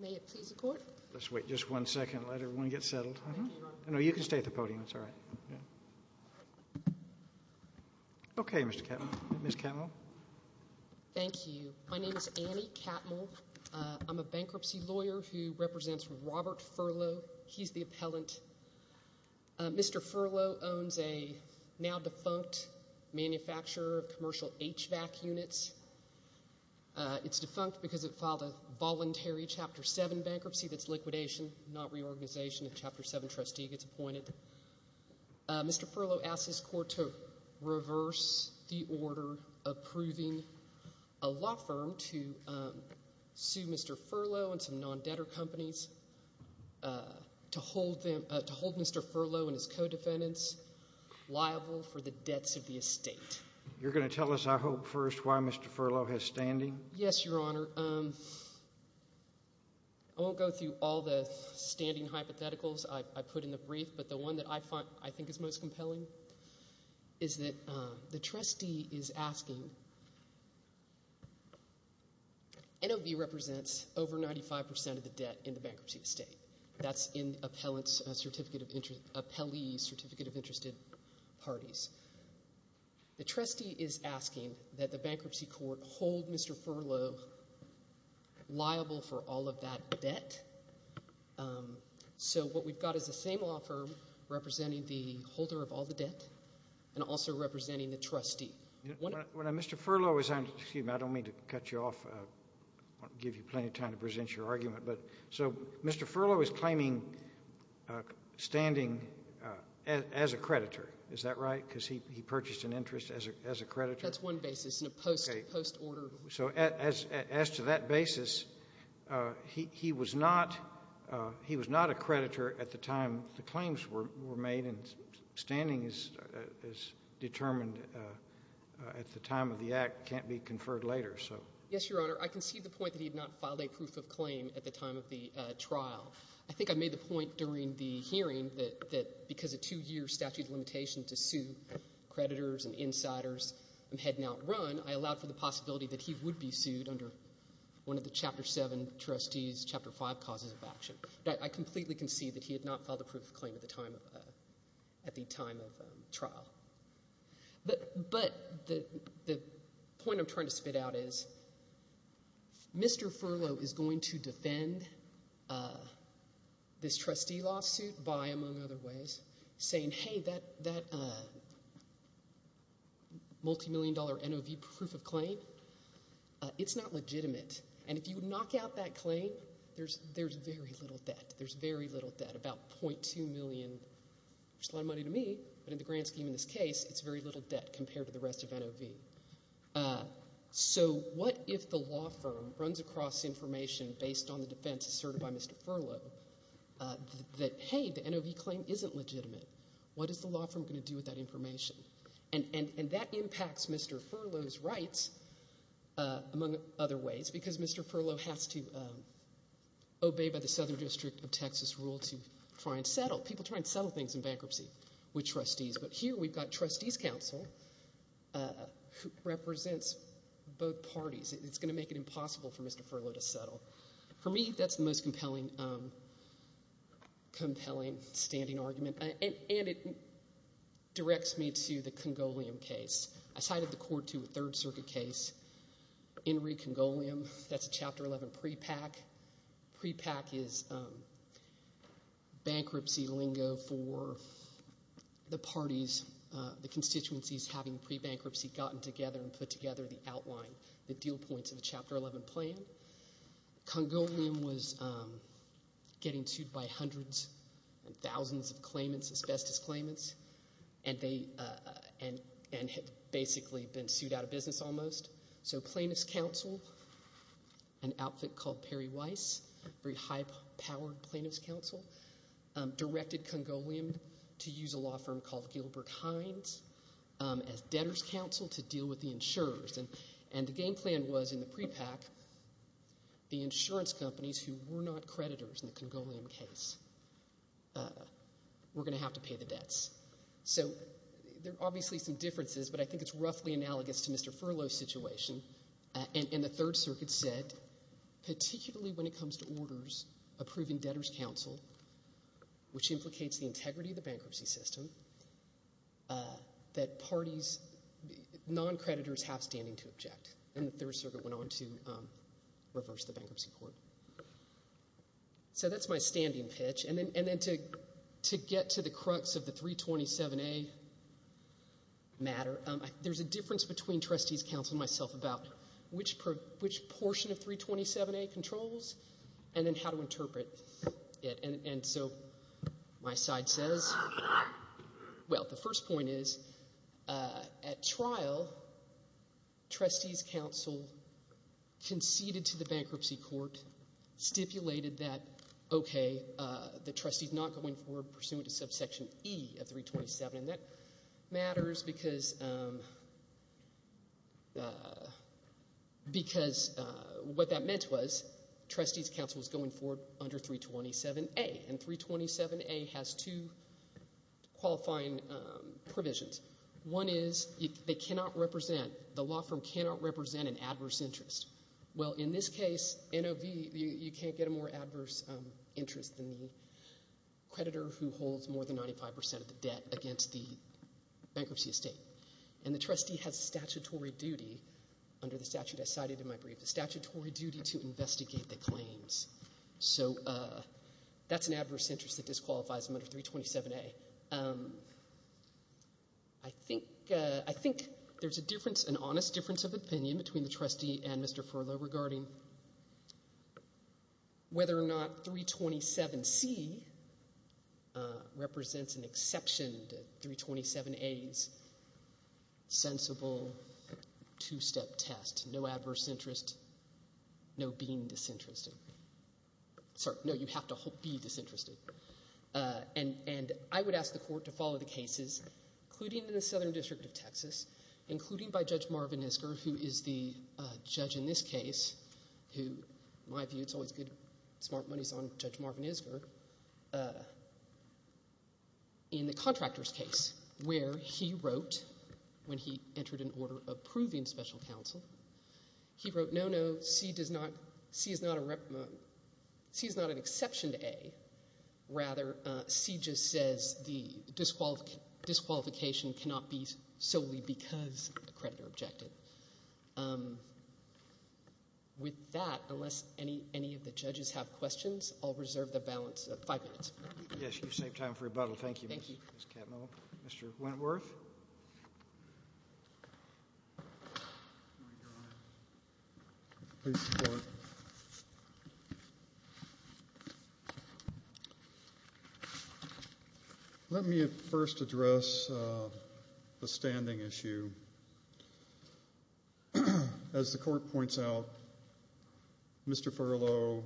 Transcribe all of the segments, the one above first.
May it please the court. Let's wait just one second. Let everyone get settled. No, you can stay at the podium. It's all right. Okay, Mr. Catmull. Ms. Catmull. Thank you. My name is Annie Catmull. I'm a bankruptcy lawyer who represents Robert Furlough. He's the appellant. Mr. Furlough owns a now-defunct manufacturer of commercial HVAC units. It's defunct because it filed a voluntary Chapter 7 bankruptcy that's liquidation, not reorganization. A Chapter 7 trustee gets appointed. Mr. Furlough asked his court to reverse the order approving a law firm to sue Mr. Furlough and some non-debtor companies to hold Mr. Furlough and his co-defendants liable for the debts of the estate. You're going to tell us, I hope, first why Mr. Furlough has standing? Yes, Your Honor. I won't go through all the standing hypotheticals I put in the brief, but the one that I think is most compelling is that the trustee is asking— NOV represents over 95 percent of the debt in the bankruptcy estate. That's in the appellee's Certificate of Interested Parties. The trustee is asking that the bankruptcy court hold Mr. Furlough liable for all of that debt. So what we've got is the same law firm representing the holder of all the debt and also representing the trustee. Mr. Furlough is—excuse me, I don't mean to cut you off. I want to give you plenty of time to present your argument. So Mr. Furlough is claiming standing as a creditor. Is that right? Because he purchased an interest as a creditor? That's one basis in a post-order. So as to that basis, he was not a creditor at the time the claims were made, and standing is determined at the time of the act, can't be conferred later. Yes, Your Honor. I concede the point that he had not filed a proof of claim at the time of the trial. I think I made the point during the hearing that because a two-year statute of limitation to sue creditors and insiders had not run, I allowed for the possibility that he would be sued under one of the Chapter 7 trustees, Chapter 5 causes of action. I completely concede that he had not filed a proof of claim at the time of the trial. But the point I'm trying to spit out is Mr. Furlough is going to defend this trustee lawsuit by, among other ways, saying, hey, that multimillion dollar NOV proof of claim, it's not legitimate. And if you knock out that claim, there's very little debt. There's very little debt, about $0.2 million, which is a lot of money to me, but in the grand scheme of this case, it's very little debt compared to the rest of NOV. So what if the law firm runs across information based on the defense asserted by Mr. Furlough that, hey, the NOV claim isn't legitimate? What is the law firm going to do with that information? And that impacts Mr. Furlough's rights, among other ways, because Mr. Furlough has to obey the Southern District of Texas rule to try and settle. A lot of people try and settle things in bankruptcy with trustees, but here we've got trustees counsel who represents both parties. It's going to make it impossible for Mr. Furlough to settle. For me, that's the most compelling standing argument, and it directs me to the Congolium case. I cited the court to a Third Circuit case, Henry Congolium. That's a Chapter 11 prepack. Prepack is bankruptcy lingo for the parties, the constituencies, having pre-bankruptcy gotten together and put together the outline, the deal points of the Chapter 11 plan. Congolium was getting sued by hundreds and thousands of claimants, asbestos claimants, and had basically been sued out of business almost. So plaintiff's counsel, an outfit called Perry Weiss, very high-powered plaintiff's counsel, directed Congolium to use a law firm called Gilbert Hines as debtor's counsel to deal with the insurers. And the game plan was in the prepack the insurance companies, who were not creditors in the Congolium case, were going to have to pay the debts. So there are obviously some differences, but I think it's roughly analogous to Mr. Furlough's situation. And the Third Circuit said, particularly when it comes to orders approving debtor's counsel, which implicates the integrity of the bankruptcy system, that parties, non-creditors have standing to object. And the Third Circuit went on to reverse the bankruptcy court. So that's my standing pitch. And then to get to the crux of the 327A matter, there's a difference between trustees' counsel and myself about which portion of 327A controls and then how to interpret it. And so my side says, well, the first point is, at trial, trustees' counsel conceded to the bankruptcy court, and stipulated that, okay, the trustees not going forward pursuant to subsection E of 327. And that matters because what that meant was trustees' counsel was going forward under 327A. And 327A has two qualifying provisions. One is they cannot represent, the law firm cannot represent an adverse interest. Well, in this case, NOV, you can't get a more adverse interest than the creditor who holds more than 95% of the debt against the bankruptcy estate. And the trustee has statutory duty, under the statute I cited in my brief, a statutory duty to investigate the claims. So that's an adverse interest that disqualifies them under 327A. Okay, I think there's a difference, an honest difference of opinion between the trustee and Mr. Furlow regarding whether or not 327C represents an exception to 327A's sensible two-step test, no adverse interest, no being disinterested. Sorry, no, you have to be disinterested. And I would ask the court to follow the cases, including in the Southern District of Texas, including by Judge Marvin Isker, who is the judge in this case, who, in my view, it's always good, smart money's on Judge Marvin Isker, in the contractor's case, where he wrote, when he entered an order approving special counsel, he wrote, no, no, 327C is not an exception to A. Rather, C just says the disqualification cannot be solely because a creditor objected. With that, unless any of the judges have questions, I'll reserve the balance of five minutes. Yes, you've saved time for rebuttal. Thank you, Ms. Catmull. Mr. Wentworth. Please support. Let me first address the standing issue. As the court points out, Mr. Furlow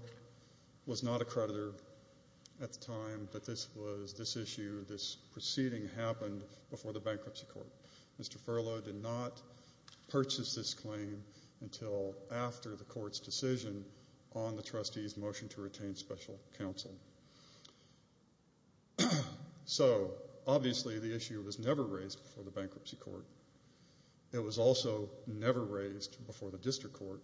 was not a creditor at the time, but this was this issue, this proceeding happened before the bankruptcy court. Mr. Furlow did not purchase this claim until after the court's decision on the trustee's motion to retain special counsel. So, obviously, the issue was never raised before the bankruptcy court. It was also never raised before the district court.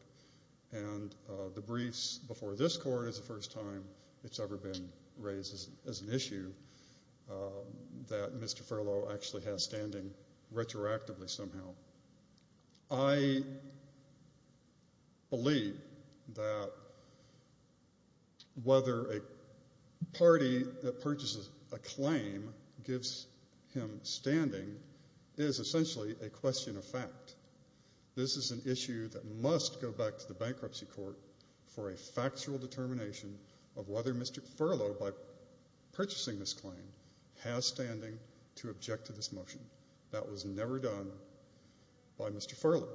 And the briefs before this court is the first time it's ever been raised as an issue that Mr. Furlow actually has standing retroactively somehow. I believe that whether a party that purchases a claim gives him standing is essentially a question of fact. This is an issue that must go back to the bankruptcy court for a factual determination of whether Mr. Furlow, by purchasing this claim, has standing to object to this motion. That was never done by Mr. Furlow.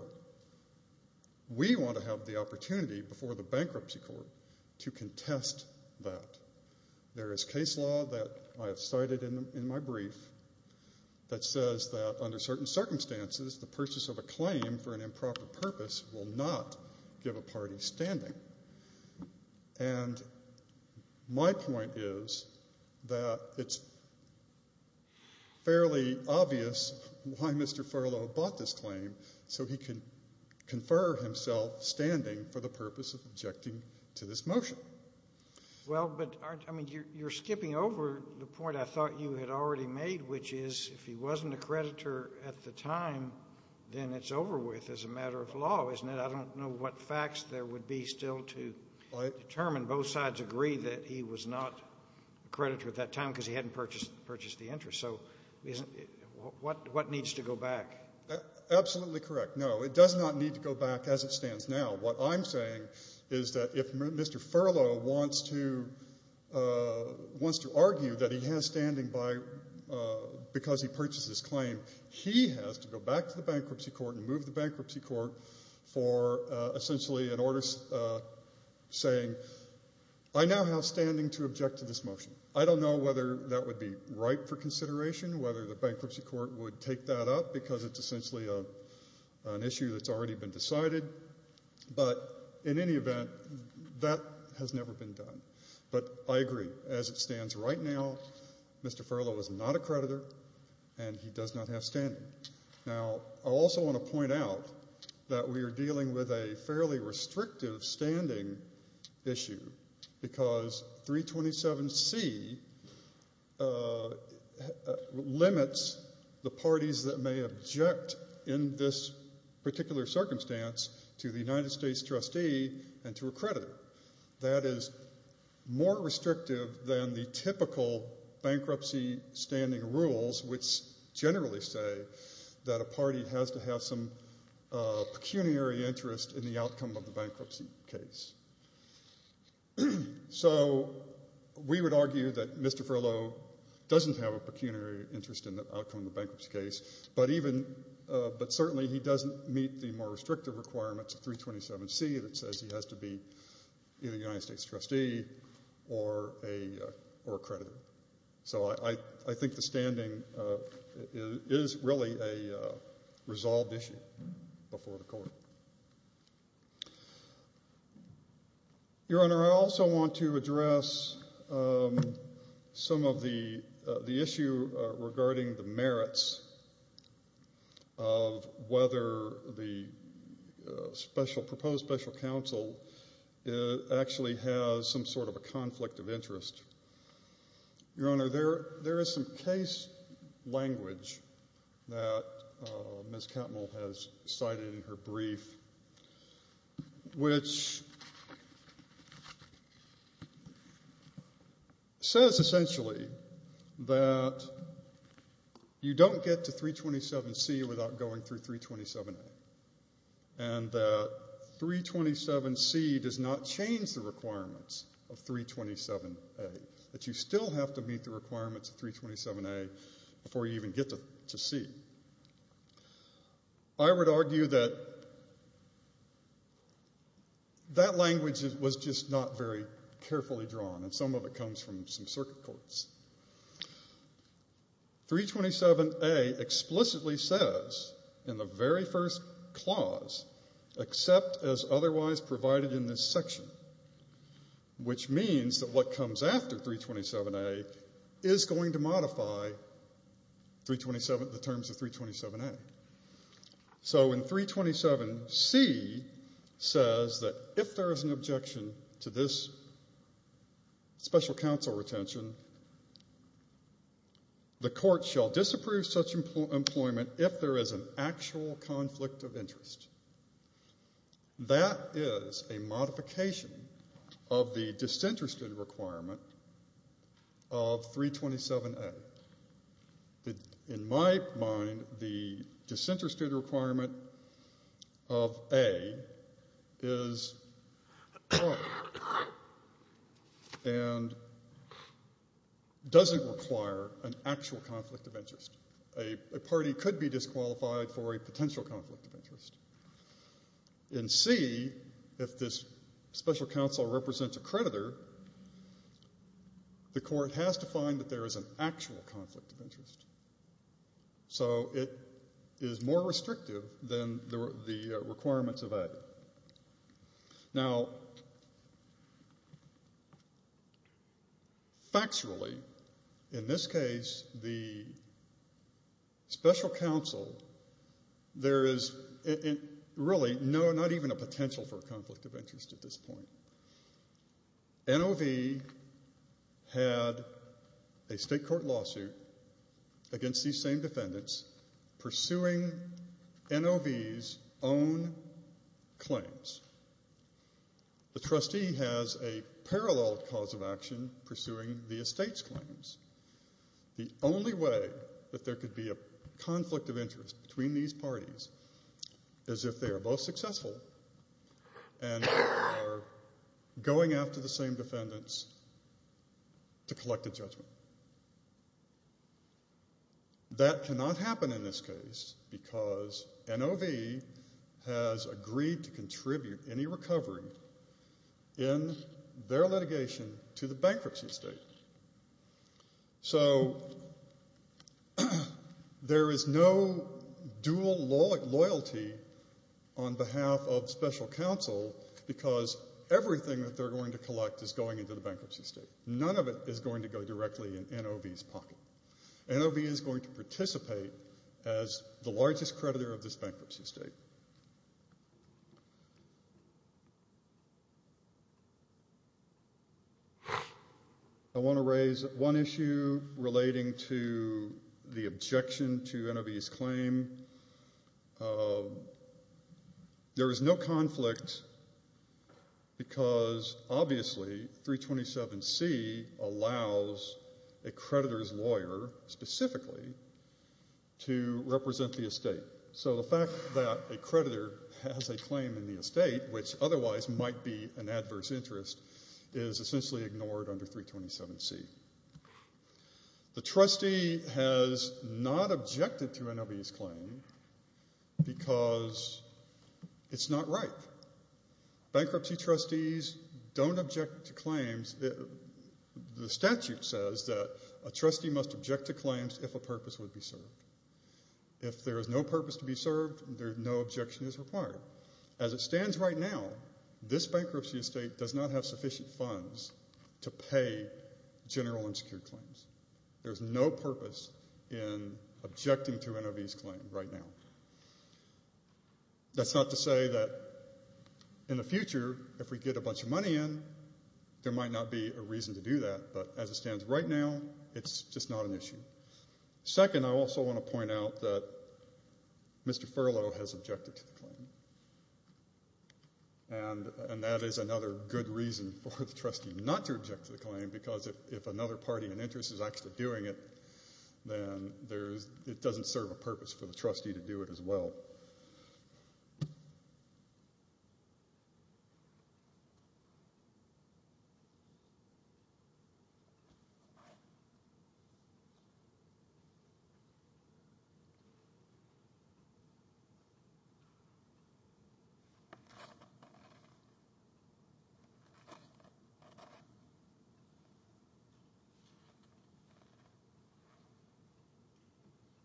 We want to have the opportunity before the bankruptcy court to contest that. There is case law that I have cited in my brief that says that under certain circumstances, the purchase of a claim for an improper purpose will not give a party standing. And my point is that it's fairly obvious why Mr. Furlow bought this claim so he could confer himself standing for the purpose of objecting to this motion. Well, but you're skipping over the point I thought you had already made, which is if he wasn't a creditor at the time, then it's over with as a matter of law, isn't it? I don't know what facts there would be still to determine. Both sides agree that he was not a creditor at that time because he hadn't purchased the interest. So what needs to go back? Absolutely correct. No, it does not need to go back as it stands now. What I'm saying is that if Mr. Furlow wants to argue that he has standing because he purchased this claim, he has to go back to the bankruptcy court and move the bankruptcy court for essentially an order saying, I now have standing to object to this motion. I don't know whether that would be right for consideration, whether the bankruptcy court would take that up because it's essentially an issue that's already been decided. But in any event, that has never been done. But I agree. As it stands right now, Mr. Furlow is not a creditor and he does not have standing. Now, I also want to point out that we are dealing with a fairly restrictive standing issue because 327C limits the parties that may object in this particular circumstance to the United States trustee and to a creditor. That is more restrictive than the typical bankruptcy standing rules, which generally say that a party has to have some pecuniary interest in the outcome of the bankruptcy case. So we would argue that Mr. Furlow doesn't have a pecuniary interest in the outcome of the bankruptcy case, but certainly he doesn't meet the more restrictive requirements of 327C that says he has to be either a United States trustee or a creditor. So I think the standing is really a resolved issue before the court. Your Honor, I also want to address some of the issue regarding the merits of whether the proposed special counsel actually has some sort of a conflict of interest. Your Honor, there is some case language that Ms. Catmull has cited in her brief, which says essentially that you don't get to 327C without going through 327A and that 327C does not change the requirements of 327A, that you still have to meet the requirements of 327A before you even get to C. I would argue that that language was just not very carefully drawn, and some of it comes from some circuit courts. 327A explicitly says in the very first clause, except as otherwise provided in this section, which means that what comes after 327A is going to modify the terms of 327A. So in 327C says that if there is an objection to this special counsel retention, the court shall disapprove such employment if there is an actual conflict of interest. That is a modification of the disinterested requirement of 327A. In my mind, the disinterested requirement of A is wrong and doesn't require an actual conflict of interest. A party could be disqualified for a potential conflict of interest. In C, if this special counsel represents a creditor, the court has to find that there is an actual conflict of interest. So it is more restrictive than the requirements of A. Now, factually, in this case, the special counsel, there is really not even a potential for a conflict of interest at this point. NOV had a state court lawsuit against these same defendants pursuing NOV's own claims. The trustee has a parallel cause of action pursuing the estate's claims. The only way that there could be a conflict of interest between these parties is if they are both successful and are going after the same defendants to collect a judgment. That cannot happen in this case because NOV has agreed to contribute any recovery in their litigation to the bankruptcy state. So there is no dual loyalty on behalf of special counsel because everything that they're going to collect is going into the bankruptcy state. None of it is going to go directly in NOV's pocket. NOV is going to participate as the largest creditor of this bankruptcy state. I want to raise one issue relating to the objection to NOV's claim. There is no conflict because obviously 327C allows a creditor's lawyer specifically to represent the estate. So the fact that a creditor has a claim in the estate, which otherwise might be an adverse interest, is essentially ignored under 327C. The trustee has not objected to NOV's claim because it's not right. Bankruptcy trustees don't object to claims. The statute says that a trustee must object to claims if a purpose would be served. If there is no purpose to be served, no objection is required. As it stands right now, this bankruptcy estate does not have sufficient funds to pay general and secured claims. There is no purpose in objecting to NOV's claim right now. That's not to say that in the future, if we get a bunch of money in, there might not be a reason to do that. But as it stands right now, it's just not an issue. Second, I also want to point out that Mr. Furlow has objected to the claim. That is another good reason for the trustee not to object to the claim because if another party in interest is actually doing it, then it doesn't serve a purpose for the trustee to do it as well. Thank you.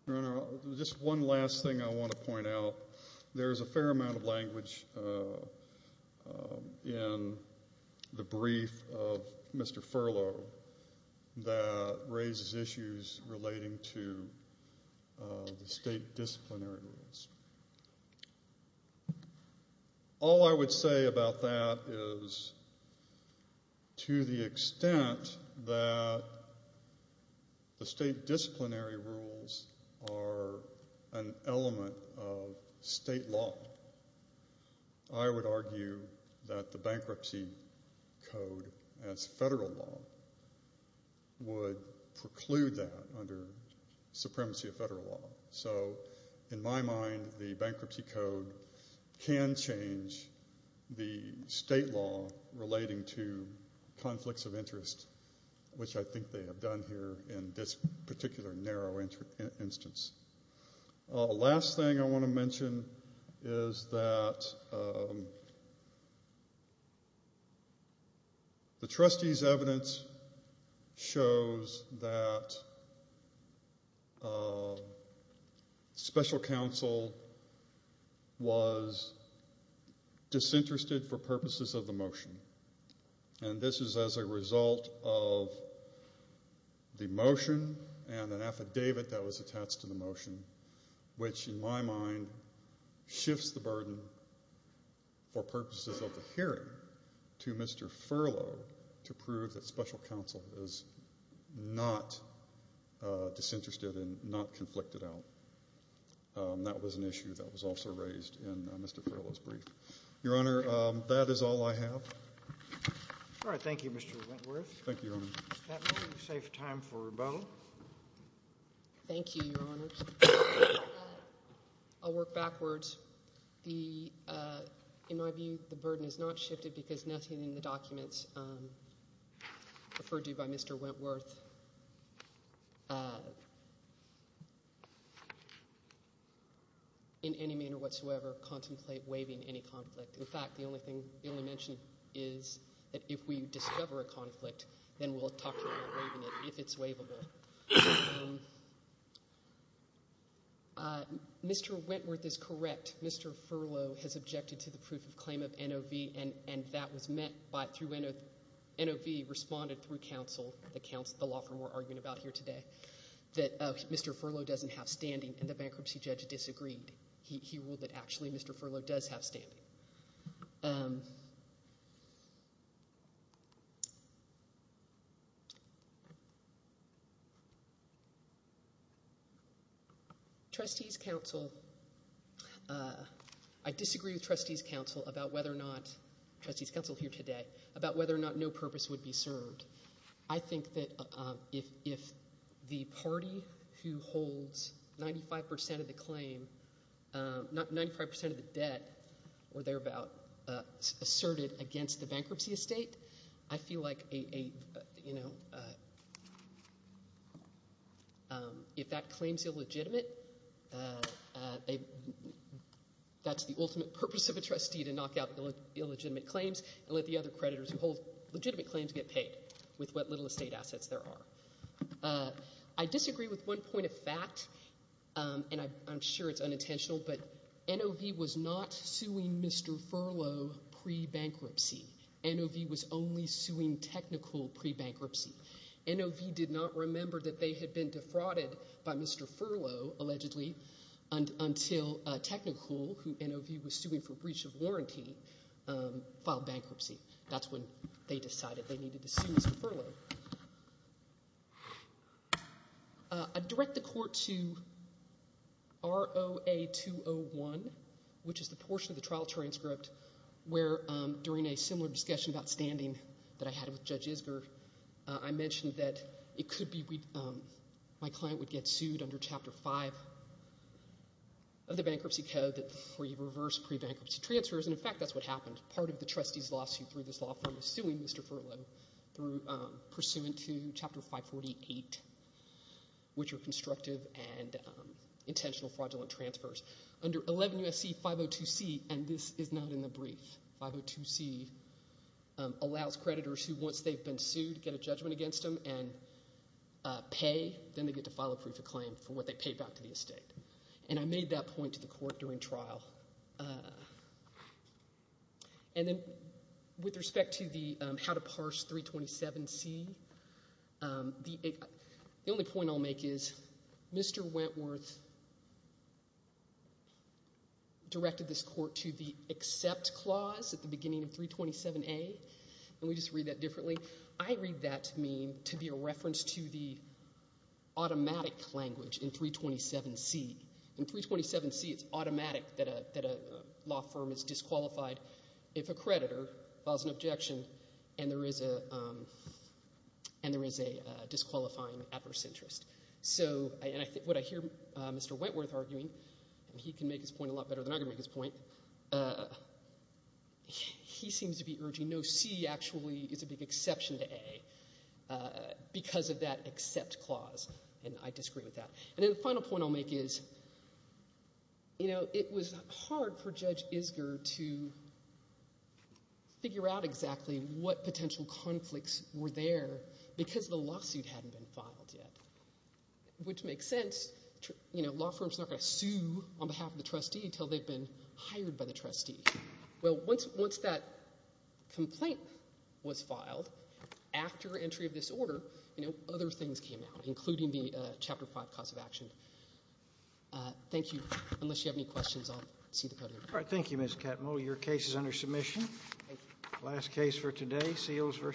Your Honor, just one last thing I want to point out. There is a fair amount of language in the brief of Mr. Furlow that raises issues relating to the state disciplinary rules. All I would say about that is to the extent that the state disciplinary rules are an element of state law, I would argue that the bankruptcy code as federal law would preclude that under supremacy of federal law. So in my mind, the bankruptcy code can change the state law relating to conflicts of interest, which I think they have done here in this particular narrow instance. The last thing I want to mention is that the trustee's evidence shows that special counsel was disinterested for purposes of the motion. And this is as a result of the motion and an affidavit that was attached to the motion, which in my mind shifts the burden for purposes of the hearing to Mr. Furlow to prove that special counsel is not disinterested and not conflicted out. That was an issue that was also raised in Mr. Furlow's brief. Your Honor, that is all I have. All right. Thank you, Mr. Wentworth. Thank you, Your Honor. With that, we'll save time for Bo. Thank you, Your Honor. I'll work backwards. In my view, the burden has not shifted because nothing in the documents referred to by Mr. Wentworth in any manner whatsoever contemplate waiving any conflict. In fact, the only mention is that if we discover a conflict, then we'll talk about waiving it if it's waivable. Mr. Wentworth is correct. Mr. Furlow has objected to the proof of claim of NOV, and that was met through NOV responded through counsel, the law firm we're arguing about here today, that Mr. Furlow doesn't have standing, and the bankruptcy judge disagreed. He ruled that actually Mr. Furlow does have standing. Trustees' counsel, I disagree with trustees' counsel about whether or not no purpose would be served. I think that if the party who holds 95% of the claim, 95% of the debt were thereabout asserted against the bankruptcy estate, I feel like if that claim is illegitimate, that's the ultimate purpose of a trustee to knock out illegitimate claims and let the other creditors who hold legitimate claims get paid with what little estate assets there are. I disagree with one point of fact, and I'm sure it's unintentional, but NOV was not suing Mr. Furlow pre-bankruptcy. NOV was only suing Technicol pre-bankruptcy. NOV did not remember that they had been defrauded by Mr. Furlow, allegedly, until Technicol, who NOV was suing for breach of warranty, filed bankruptcy. That's when they decided they needed to sue Mr. Furlow. I direct the court to ROA 201, which is the portion of the trial transcript where, during a similar discussion about standing that I had with Judge Isger, I mentioned that it could be my client would get sued under Chapter 5 of the Bankruptcy Code where you reverse pre-bankruptcy transfers, and, in fact, that's what happened. Part of the trustee's lawsuit through this law firm is suing Mr. Furlow pursuant to Chapter 548, which are constructive and intentional fraudulent transfers. Under 11 U.S.C. 502c, and this is not in the brief, 502c allows creditors who, once they've been sued, get a judgment against them and pay, then they get to file a proof of claim for what they paid back to the estate. And I made that point to the court during trial. And then with respect to the how to parse 327c, the only point I'll make is Mr. Wentworth directed this court to the accept clause at the beginning of 327a, and we just read that differently. I read that to me to be a reference to the automatic language in 327c. In 327c, it's automatic that a law firm is disqualified if a creditor files an objection and there is a disqualifying adverse interest. So what I hear Mr. Wentworth arguing, and he can make his point a lot better than I can make his point, he seems to be urging no, c actually is a big exception to a, because of that accept clause, and I disagree with that. And then the final point I'll make is, you know, it was hard for Judge Isger to figure out exactly what potential conflicts were there because the lawsuit hadn't been filed yet, which makes sense. You know, law firms are not going to sue on behalf of the trustee until they've been hired by the trustee. Well, once that complaint was filed, after entry of this order, you know, other things came out, including the Chapter 5 cause of action. Thank you. Unless you have any questions, I'll see the podium. All right. Thank you, Ms. Catmull. Your case is under submission. Last case for today, Seals v. Landry.